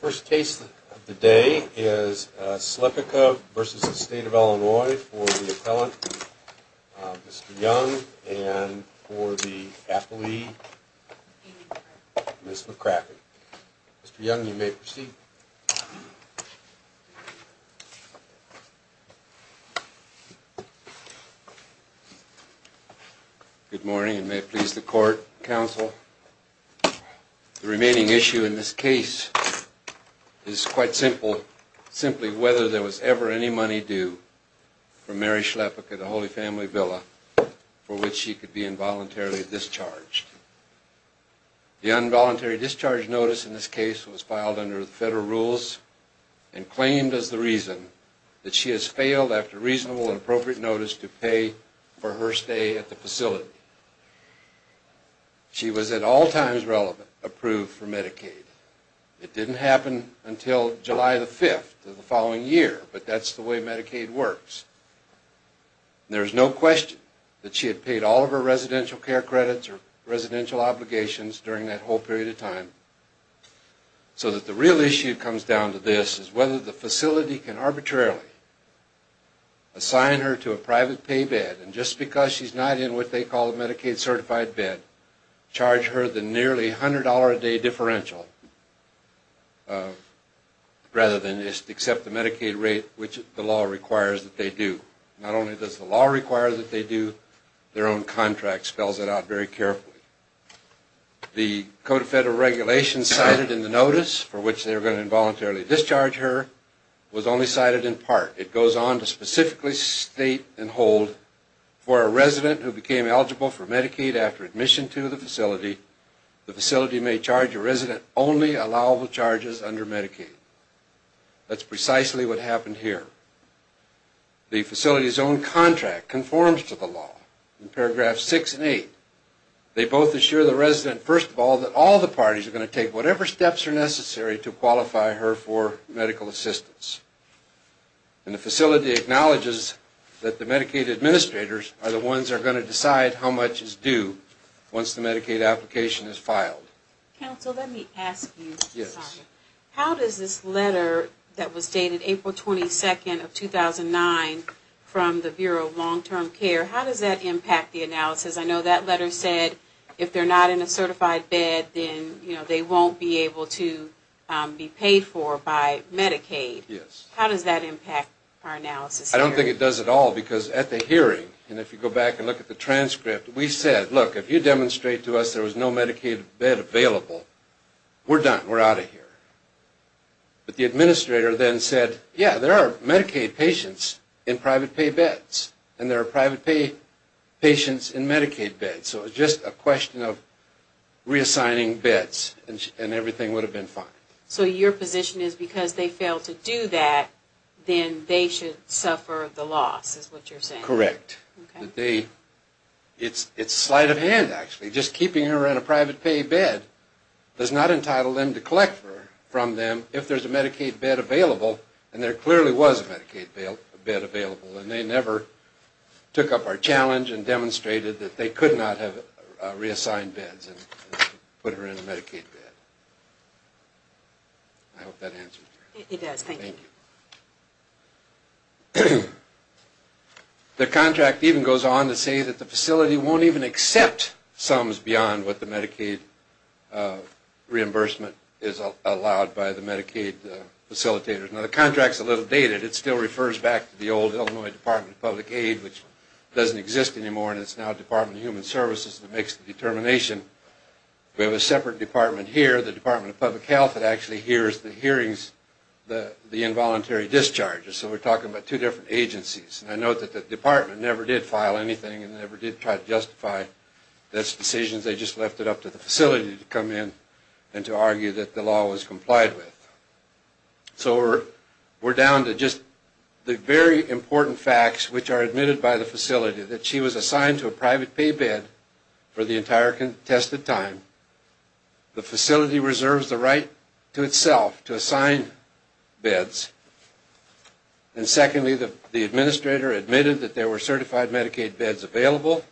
First case of the day is Slepicka v. State of Illinois for the appellant, Mr. Young, and for the affilee, Ms. McCracken. Mr. Young, you may proceed. Good morning, and may it please the court, counsel. The remaining issue in this case is quite simple, simply whether there was ever any money due for Mary Slepicka, the Holy Family Villa, for which she could be involuntarily discharged. The involuntary discharge notice in this case was filed under the federal rules and claimed as the reason that she has failed, after reasonable and appropriate notice, to pay for her stay at the facility. She was at all times approved for Medicaid. It didn't happen until July the 5th of the following year, but that's the way Medicaid works. There's no question that she had paid all of her residential care credits or residential obligations during that whole period of time. So that the real issue comes down to this, is whether the facility can arbitrarily assign her to a private pay bed, and just because she's not in what they call a Medicaid certified bed, charge her the nearly $100 a day differential, rather than just accept the Medicaid rate, which the law requires that they do. Not only does the law require that they do, their own contract spells it out very carefully. The Code of Federal Regulations cited in the notice, for which they were going to involuntarily discharge her, was only cited in part. It goes on to specifically state and hold, for a resident who became eligible for Medicaid after admission to the facility, the facility may charge a resident only allowable charges under Medicaid. That's precisely what happened here. The facility's own contract conforms to the law, in paragraphs 6 and 8. They both assure the resident, first of all, that all the parties are going to take whatever steps are necessary to qualify her for medical assistance. And the facility acknowledges that the Medicaid administrators are the ones that are going to decide how much is due once the Medicaid application is filed. Counsel, let me ask you something. How does this letter that was dated April 22nd of 2009 from the Bureau of Long-Term Care, how does that impact the analysis? I know that letter said if they're not in a certified bed, then they won't be able to be paid for by Medicaid. How does that impact our analysis here? I don't think it does at all, because at the hearing, and if you go back and look at the transcript, we said, look, if you demonstrate to us there was no Medicaid bed available, we're done. We're out of here. But the administrator then said, yeah, there are Medicaid patients in private pay beds, and there are private pay patients in Medicaid beds. So it's just a question of reassigning beds, and everything would have been fine. So your position is because they failed to do that, then they should suffer the loss, is what you're saying? The contract even goes on to say that the facility won't even accept sums beyond what the Medicaid reimbursement is allowed by the Medicaid facilitators. Now the contract's a little dated. It still refers back to the old Illinois Department of Public Aid, which doesn't exist anymore, and it's now Department of Human Services that makes the determination. We have a separate department here, the Department of Public Health, that actually hears the hearings, the involuntary discharges. So we're talking about two different agencies. And I note that the department never did file anything and never did try to justify those decisions. They just left it up to the facility to come in and to argue that the law was complied with. So we're down to just the very important facts which are admitted by the facility, that she was assigned to a private pay bed for the entire contested time. The facility reserves the right to itself to assign beds. And secondly, the administrator admitted that there were certified Medicaid beds available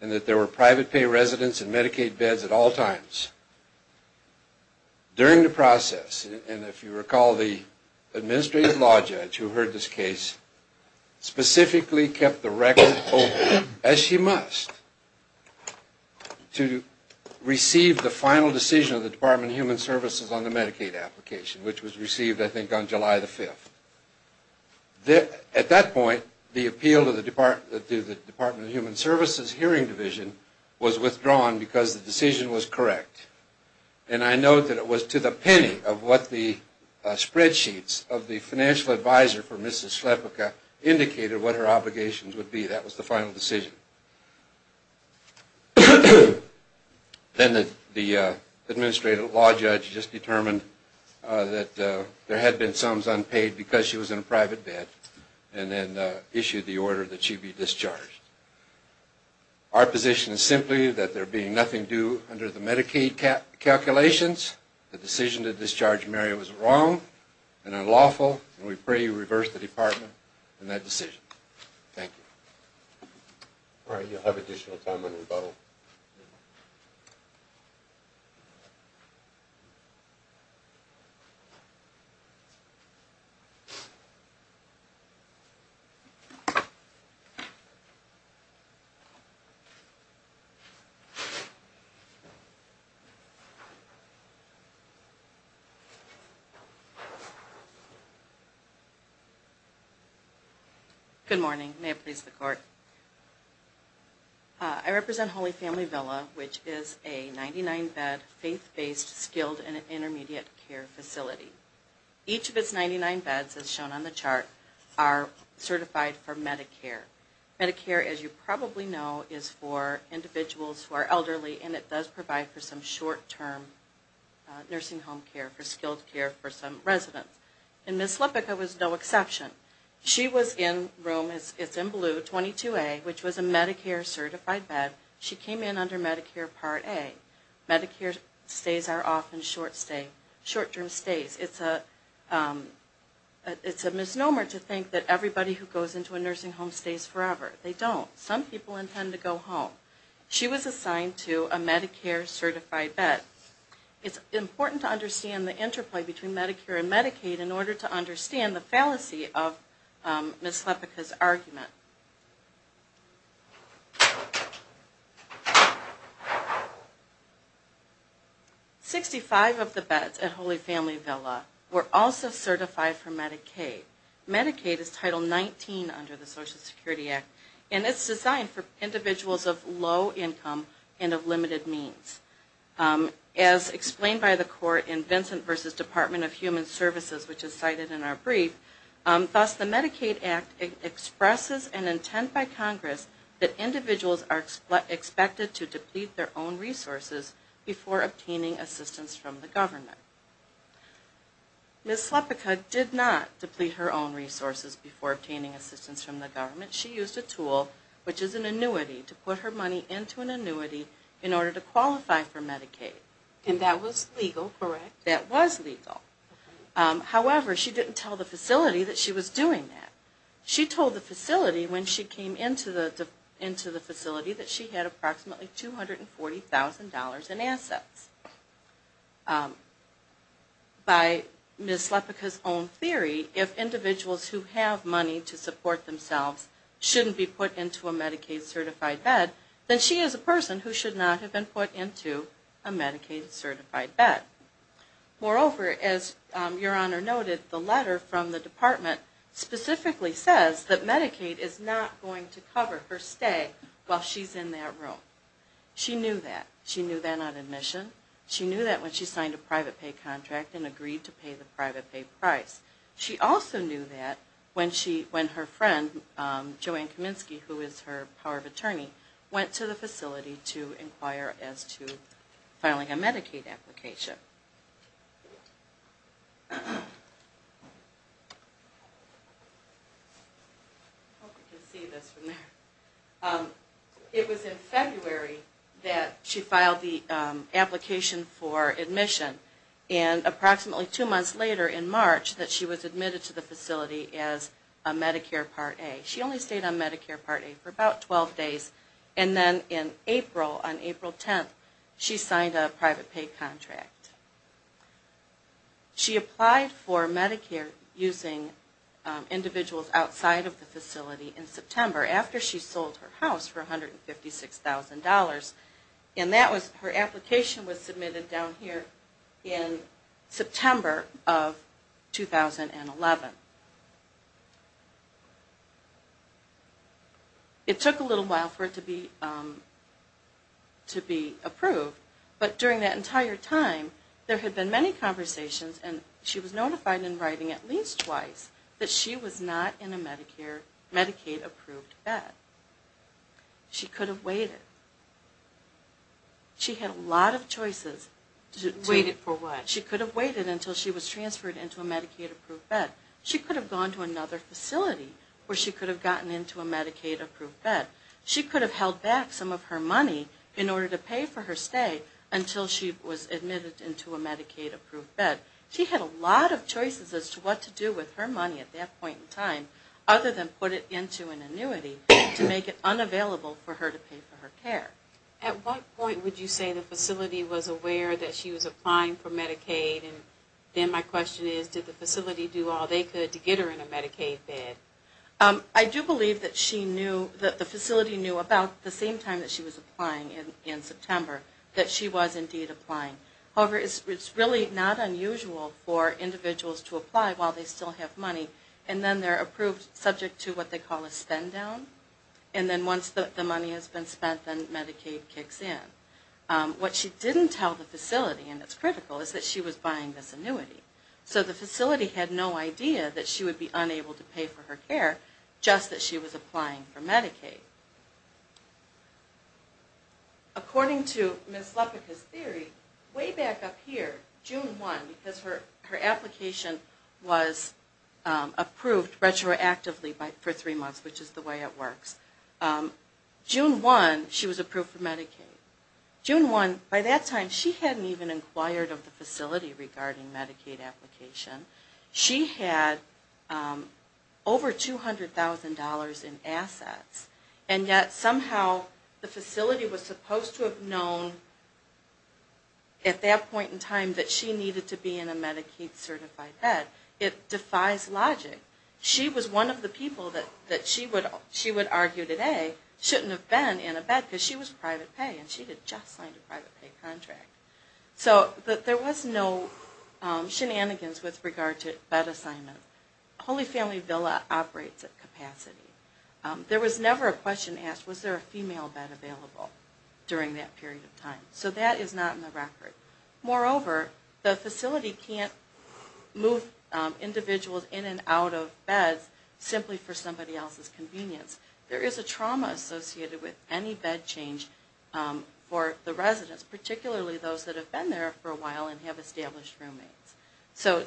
and that there were private pay residents in Medicaid beds at all times. During the process, and if you recall, the administrative law judge who heard this case specifically kept the record open, as she must, to receive the final decision of the Department of Human Services on the Medicaid application, which was received, I think, on July the 5th. At that point, the appeal to the Department of Human Services Hearing Division was withdrawn because the decision was correct. And I note that it was to the penny of what the spreadsheets of the financial advisor for Mrs. Schlepika indicated what her obligations would be. That was the final decision. Then the administrative law judge just determined that there had been sums unpaid because she was in a private bed, and then issued the order that she be discharged. Our position is simply that there being nothing due under the Medicaid calculations, the decision to discharge Mary was wrong and unlawful, and we pray you reverse the Department in that decision. Thank you. All right, you'll have additional time on rebuttal. Good morning. May it please the Court. I represent Holy Family Villa, which is a 99-bed, faith-based, skilled, and intermediate care facility. Each of its 99 beds, as shown on the chart, are certified for Medicare. Medicare, as you probably know, is for individuals who are elderly, and it does provide for some short-term nursing home care, for skilled care for some residents. And Ms. Schlepika was no exception. She was in room, it's in blue, 22A, which was a Medicare-certified bed. She came in under Medicare Part A. Medicare stays are often short-term stays. It's a misnomer to think that everybody who goes into a nursing home stays forever. They don't. Some people intend to go home. She was assigned to a Medicare-certified bed. It's important to understand the interplay between Medicare and Medicaid in order to understand the fallacy of Ms. Schlepika's argument. 65 of the beds at Holy Family Villa were also certified for Medicaid. Medicaid is Title 19 under the Social Security Act, and it's designed for individuals of low income and of limited means. As explained by the court in Vincent v. Department of Human Services, which is cited in our brief, thus the Medicaid Act expresses an intent by Congress that individuals are expected to deplete their own resources before obtaining assistance from the government. Ms. Schlepika did not deplete her own resources before obtaining assistance from the government. She used a tool, which is an annuity, to put her money into an annuity in order to qualify for Medicaid. And that was legal, correct? That was legal. However, she didn't tell the facility that she was doing that. She told the facility when she came into the facility that she had approximately $240,000 in assets. By Ms. Schlepika's own theory, if individuals who have money to support themselves shouldn't be put into a Medicaid-certified bed, then she is a person who should not have been put into a Medicaid-certified bed. Moreover, as Your Honor noted, the letter from the department specifically says that Medicaid is not going to cover her stay while she's in that room. She knew that. She knew that on admission. She knew that when she signed a private pay contract and agreed to pay the private pay price. She also knew that when her friend, Joanne Kaminsky, who is her power of attorney, went to the facility to inquire as to filing a Medicaid application. I hope you can see this from there. It was in February that she filed the application for admission. And approximately two months later in March that she was admitted to the facility as a Medicare Part A. She only stayed on Medicare Part A for about 12 days. And then in April, on April 10th, she signed a private pay contract. She applied for Medicare using individuals outside of the facility in September after she sold her house for $156,000. And her application was submitted down here in September of 2011. It took a little while for it to be approved, but during that entire time there had been many conversations and she was notified in writing at least twice that she was not in a Medicaid-approved bed. She could have waited. She had a lot of choices. Waited for what? She could have waited until she was transferred into a Medicaid-approved bed. She could have gone to another facility where she could have gotten into a Medicaid-approved bed. She could have held back some of her money in order to pay for her stay until she was admitted into a Medicaid-approved bed. She had a lot of choices as to what to do with her money at that point in time other than put it into an annuity to make it unavailable for her to pay for her care. At what point would you say the facility was aware that she was applying for Medicaid and then my question is did the facility do all they could to get her in a Medicaid bed? I do believe that the facility knew about the same time that she was applying in September that she was indeed applying. However, it's really not unusual for individuals to apply while they still have money and then they're approved subject to what they call a spend-down and then once the money has been spent then Medicaid kicks in. What she didn't tell the facility, and it's critical, is that she was buying this annuity. So the facility had no idea that she would be unable to pay for her care just that she was applying for Medicaid. According to Ms. Lepicka's theory, way back up here, June 1, because her application was approved retroactively for three months, which is the way it works, June 1 she was approved for Medicaid. June 1, by that time, she hadn't even inquired of the facility regarding Medicaid application. She had over $200,000 in assets and yet somehow the facility was supposed to have known at that point in time that she needed to be in a Medicaid certified bed. It defies logic. She was one of the people that she would argue today shouldn't have been in a bed because she was private pay and she had just signed a private pay contract. So there was no shenanigans with regard to bed assignment. Holy Family Villa operates at capacity. There was never a question asked, was there a female bed available during that period of time? So that is not in the record. Moreover, the facility can't move individuals in and out of beds simply for somebody else's convenience. There is a trauma associated with any bed change for the residents, particularly those that have been there for a while and have established roommates. So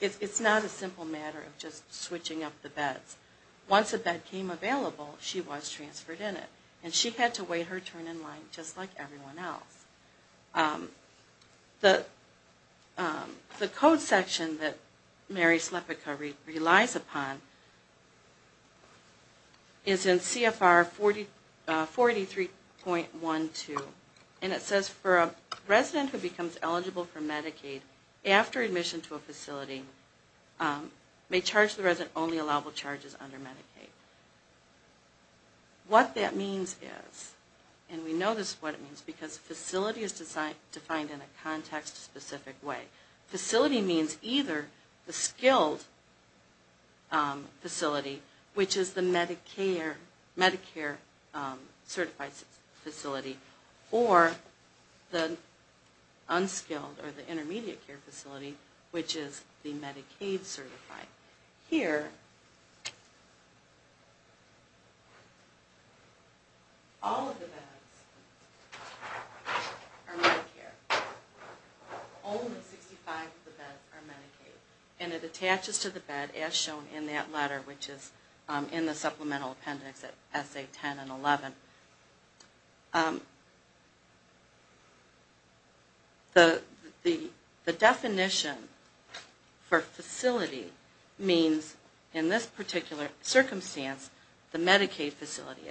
it's not a simple matter of just switching up the beds. Once a bed came available, she was transferred in it and she had to wait her turn in line just like everyone else. The code section that Mary Slepyka relies upon is in CFR 43.12 and it says for a resident who becomes eligible for Medicaid after admission to a facility may charge the resident only allowable charges under Medicaid. What that means is, and we know this is what it means because facility is defined in a context specific way. Facility means either the skilled facility which is the Medicare certified facility or the unskilled or the intermediate care facility which is the Medicaid certified. Here, all of the beds are Medicare. Only 65 of the beds are Medicaid. And it attaches to the bed as shown in that letter which is in the supplemental appendix at essay 10 and 11. The definition for facility means in this particular circumstance, the Medicaid facility.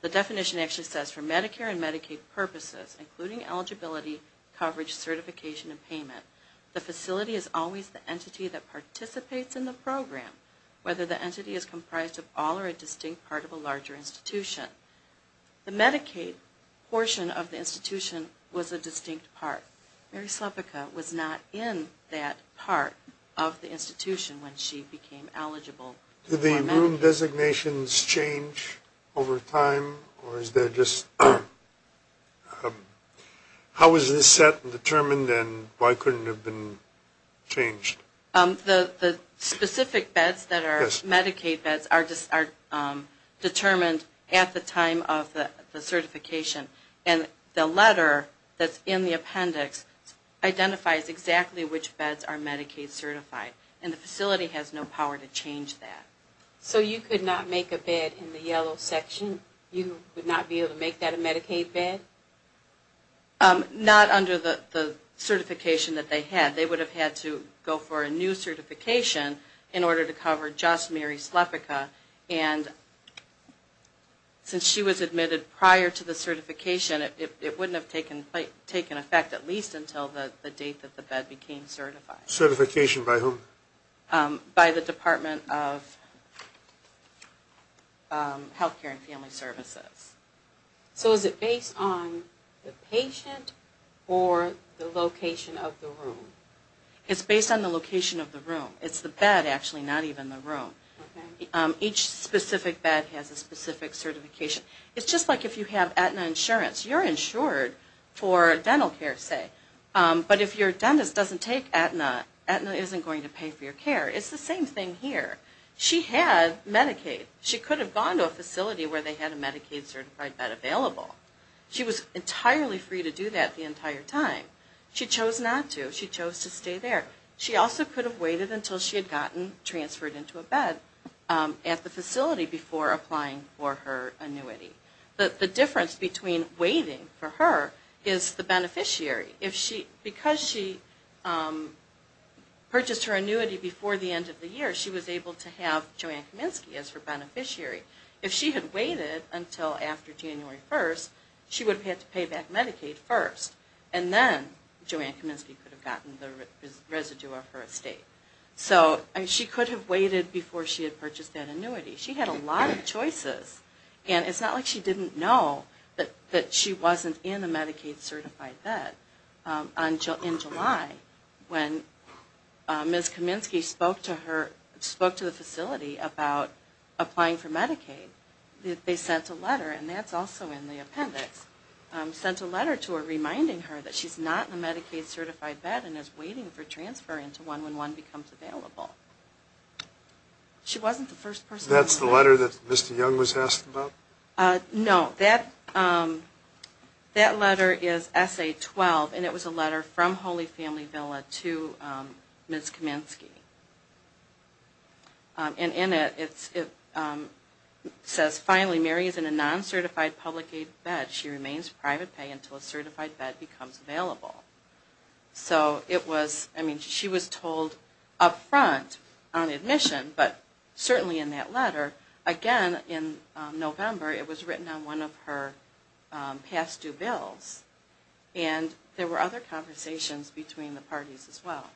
The definition actually says for Medicare and Medicaid purposes including eligibility, coverage, certification and payment, the facility is always the entity that participates in the program whether the entity is comprised of all or a distinct part of a larger institution. The Medicaid portion of the institution was a distinct part. Mary Slepyka was not in that part of the institution when she became eligible. Did the room designations change over time or is there just, how is this set and determined and why couldn't it have been changed? The specific beds that are Medicaid beds are determined at the time of the certification. And the letter that's in the appendix identifies exactly which beds are Medicaid certified. And the facility has no power to change that. So you could not make a bed in the yellow section? You would not be able to make that a Medicaid bed? Not under the certification that they had. They would have had to go for a new certification in order to cover just Mary Slepyka. And since she was admitted prior to the certification, it wouldn't have taken effect at least until the date that the bed became certified. Certification by whom? By the Department of Health Care and Family Services. So is it based on the patient or the location of the room? It's based on the location of the room. It's the bed actually, not even the room. Each specific bed has a specific certification. It's just like if you have Aetna insurance, you're insured for dental care say. But if your dentist doesn't take Aetna, Aetna isn't going to pay for your care. It's the same thing here. She had Medicaid. She could have gone to a facility where they had a Medicaid certified bed available. She was entirely free to do that the entire time. She chose not to. She chose to stay there. She also could have waited until she had gotten transferred into a bed at the facility before applying for her annuity. The difference between waiting for her is the beneficiary. Because she purchased her annuity before the end of the year, she was able to have Joanne Kaminsky as her beneficiary. If she had waited until after January 1st, she would have had to pay back Medicaid first. And then Joanne Kaminsky could have gotten the residue of her estate. So she could have waited before she had purchased that annuity. She had a lot of choices. And it's not like she didn't know that she wasn't in a Medicaid certified bed. In July, when Ms. Kaminsky spoke to the facility about applying for Medicaid, they sent a letter, and that's also in the appendix, sent a letter to her reminding her that she's not in a Medicaid certified bed and is waiting for transfer into one when one becomes available. She wasn't the first person. That's the letter that Mr. Young was asked about? No. That letter is Essay 12, and it was a letter from Holy Family Villa to Ms. Kaminsky. And in it, it says, finally, Mary is in a non-certified public aid bed. She remains private pay until a certified bed becomes available. So it was, I mean, she was told up front on admission, but certainly in that letter. Again, in November, it was written on one of her past due bills, and there were other conversations between the parties as well.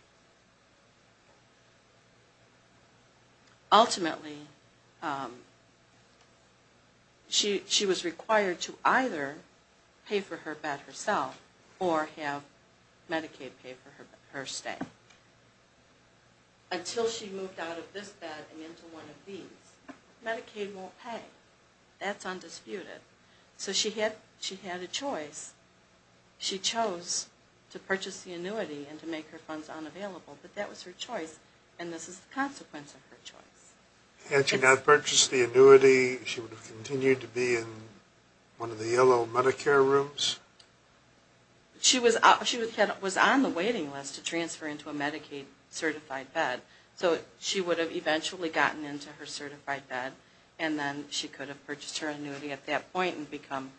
Ultimately, she was required to either pay for her bed herself or have Medicaid pay for her stay. Until she moved out of this bed and into one of these, Medicaid won't pay. That's undisputed. So she had a choice. She chose to purchase the annuity and to make her funds unavailable, but that was her choice, and this is the consequence of her choice. Had she not purchased the annuity, she would have continued to be in one of the yellow Medicare rooms? She was on the waiting list to transfer into a Medicaid-certified bed, so she would have eventually gotten into her certified bed, and then she could have purchased her annuity at that point and become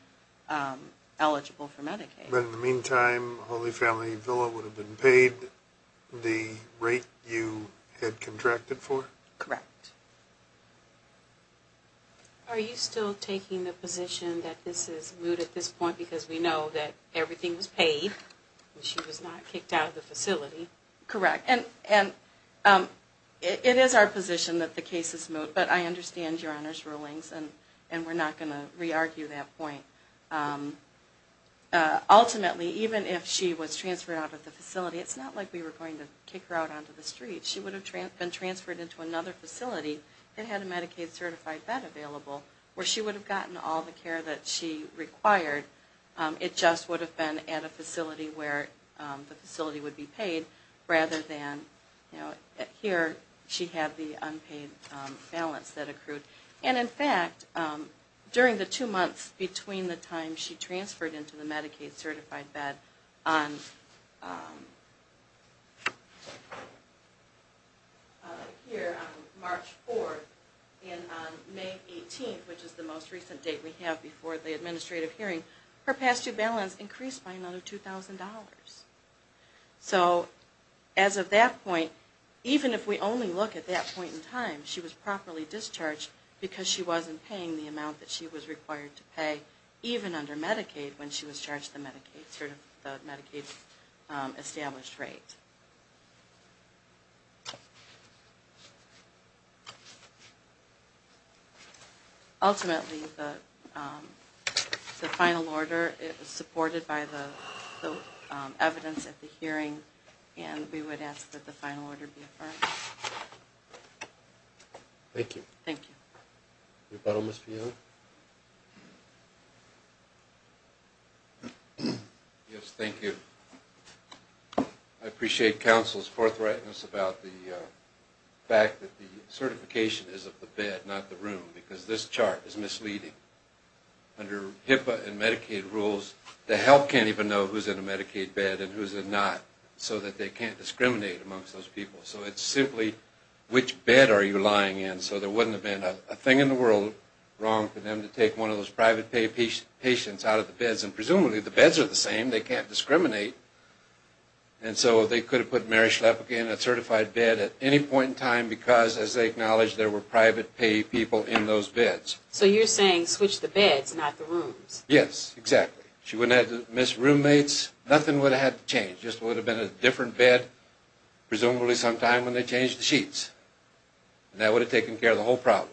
eligible for Medicaid. But in the meantime, Holy Family Villa would have been paid the rate you had contracted for? Correct. Are you still taking the position that this is moot at this point because we know that everything was paid when she was not kicked out of the facility? Correct. And it is our position that the case is moot, but I understand Your Honor's rulings, and we're not going to re-argue that point. Ultimately, even if she was transferred out of the facility, it's not like we were going to kick her out onto the street. She would have been transferred into another facility that had a Medicaid-certified bed available where she would have gotten all the care that she required. It just would have been at a facility where the facility would be paid rather than, you know, here she had the unpaid balance that accrued. And in fact, during the two months between the time she transferred into the Medicaid-certified bed here on March 4th and on May 18th, which is the most recent date we have before the administrative hearing, her past-due balance increased by another $2,000. So as of that point, even if we only look at that point in time, she was properly discharged because she wasn't paying the amount that she was required to pay even under Medicaid when she was charged the Medicaid-established rate. Ultimately, the final order, it was supported by the evidence at the hearing, and we would ask that the final order be affirmed. Thank you. Thank you. Your bottom is for you. Yes, thank you. I appreciate that. I appreciate counsel's forthrightness about the fact that the certification is of the bed, not the room, because this chart is misleading. Under HIPAA and Medicaid rules, the health can't even know who's in a Medicaid bed and who's not, so that they can't discriminate amongst those people. So it's simply, which bed are you lying in? So there wouldn't have been a thing in the world wrong for them to take one of those private-pay patients out of the beds, and presumably the beds are the same. They can't discriminate. And so they could have put Mary Schlepke in a certified bed at any point in time because, as they acknowledged, there were private-pay people in those beds. So you're saying switch the beds, not the rooms. Yes, exactly. She wouldn't have had to miss roommates. Nothing would have had to change. Just would have been a different bed, presumably sometime when they changed the sheets. And that would have taken care of the whole problem.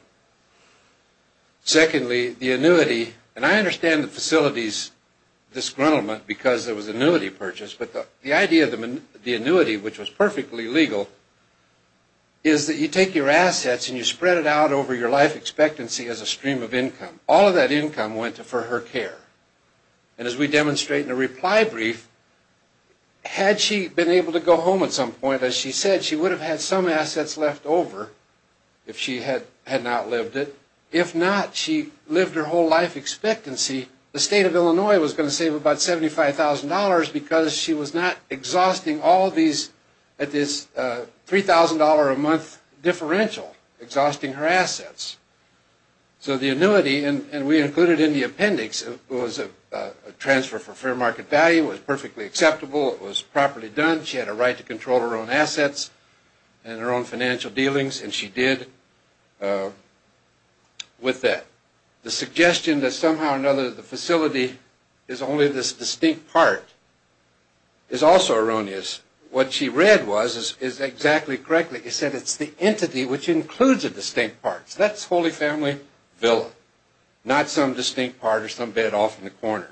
Secondly, the annuity, and I understand the facility's disgruntlement because it was an annuity purchase, but the idea of the annuity, which was perfectly legal, is that you take your assets and you spread it out over your life expectancy as a stream of income. All of that income went for her care. And as we demonstrate in the reply brief, had she been able to go home at some point, as she said, she would have had some assets left over if she had not lived it. If not, she lived her whole life expectancy. The state of Illinois was going to save about $75,000 because she was not exhausting all these, at this $3,000 a month differential, exhausting her assets. So the annuity, and we included in the appendix, was a transfer for fair market value, was perfectly acceptable, it was properly done. She had a right to control her own assets and her own financial dealings, and she did with that. The suggestion that somehow or another the facility is only this distinct part is also erroneous. What she read was, is exactly correctly, it said it's the entity which includes the distinct parts. That's Holy Family Villa, not some distinct part or some bed off in the corner.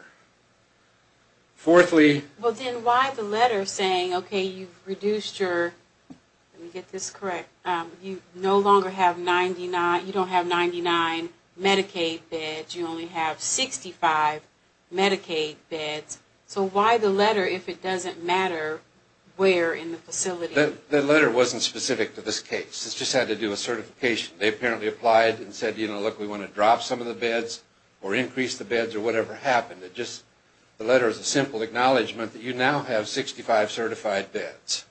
Fourthly. Well, then why the letter saying, okay, you've reduced your, let me get this correct, you no longer have 99, you don't have 99 Medicaid beds, you only have 65 Medicaid beds. So why the letter if it doesn't matter where in the facility? The letter wasn't specific to this case. This just had to do with certification. They apparently applied and said, you know, look, we want to drop some of the beds or increase the beds or whatever happened. It just, the letter is a simple acknowledgement that you now have 65 certified beds.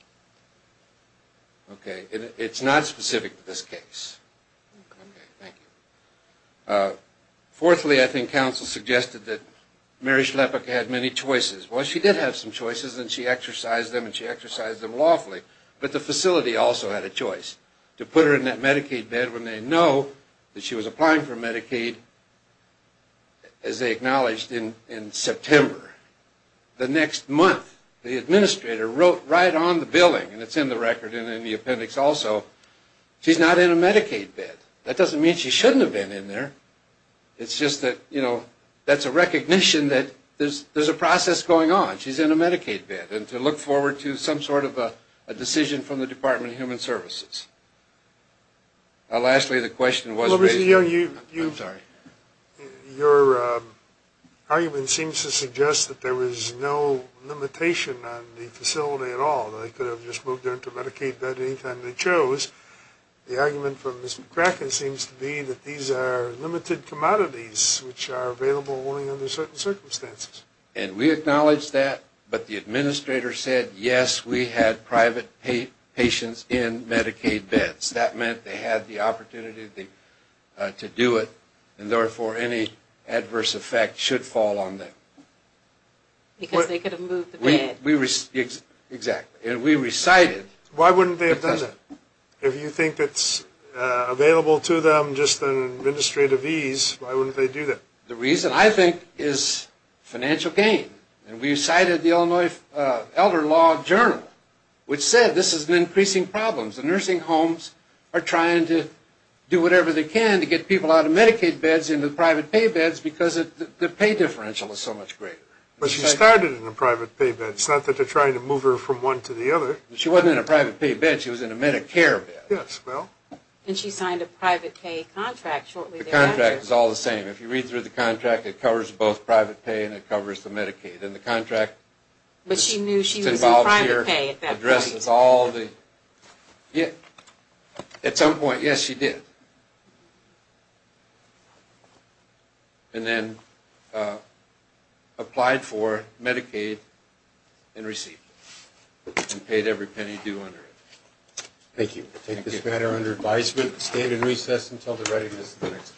Okay. It's not specific to this case. Okay. Thank you. Fourthly, I think counsel suggested that Mary Schleppach had many choices. Well, she did have some choices and she exercised them and she exercised them lawfully, but the facility also had a choice. To put her in that Medicaid bed when they know that she was applying for Medicaid as they acknowledged in September. The next month, the administrator wrote right on the billing, and it's in the record and in the appendix also, she's not in a Medicaid bed. That doesn't mean she shouldn't have been in there. It's just that, you know, that's a recognition that there's a process going on. And to look forward to some sort of a decision from the Department of Human Services. Lastly, the question was raised. Your argument seems to suggest that there was no limitation on the facility at all. They could have just moved her into a Medicaid bed any time they chose. The argument from Ms. McCracken seems to be that these are limited commodities which are available only under certain circumstances. And we acknowledge that, but the administrator said, yes, we had private patients in Medicaid beds. That meant they had the opportunity to do it, and therefore any adverse effect should fall on them. Because they could have moved the bed. Exactly. And we recited. Why wouldn't they have done that? If you think it's available to them just an administrative ease, why wouldn't they do that? The reason, I think, is financial gain. And we recited the Illinois Elder Law Journal, which said this is an increasing problem. The nursing homes are trying to do whatever they can to get people out of Medicaid beds into private pay beds because the pay differential is so much greater. But she started in a private pay bed. It's not that they're trying to move her from one to the other. She wasn't in a private pay bed. She was in a Medicare bed. Yes, well. And she signed a private pay contract shortly thereafter. The contract is all the same. If you read through the contract, it covers both private pay and it covers the Medicaid. And the contract that's involved here addresses all the – at some point, yes, she did. And then applied for Medicaid and received it and paid every penny due under it. Thank you. We'll take this matter under advisement, stand in recess until the readiness of the next case.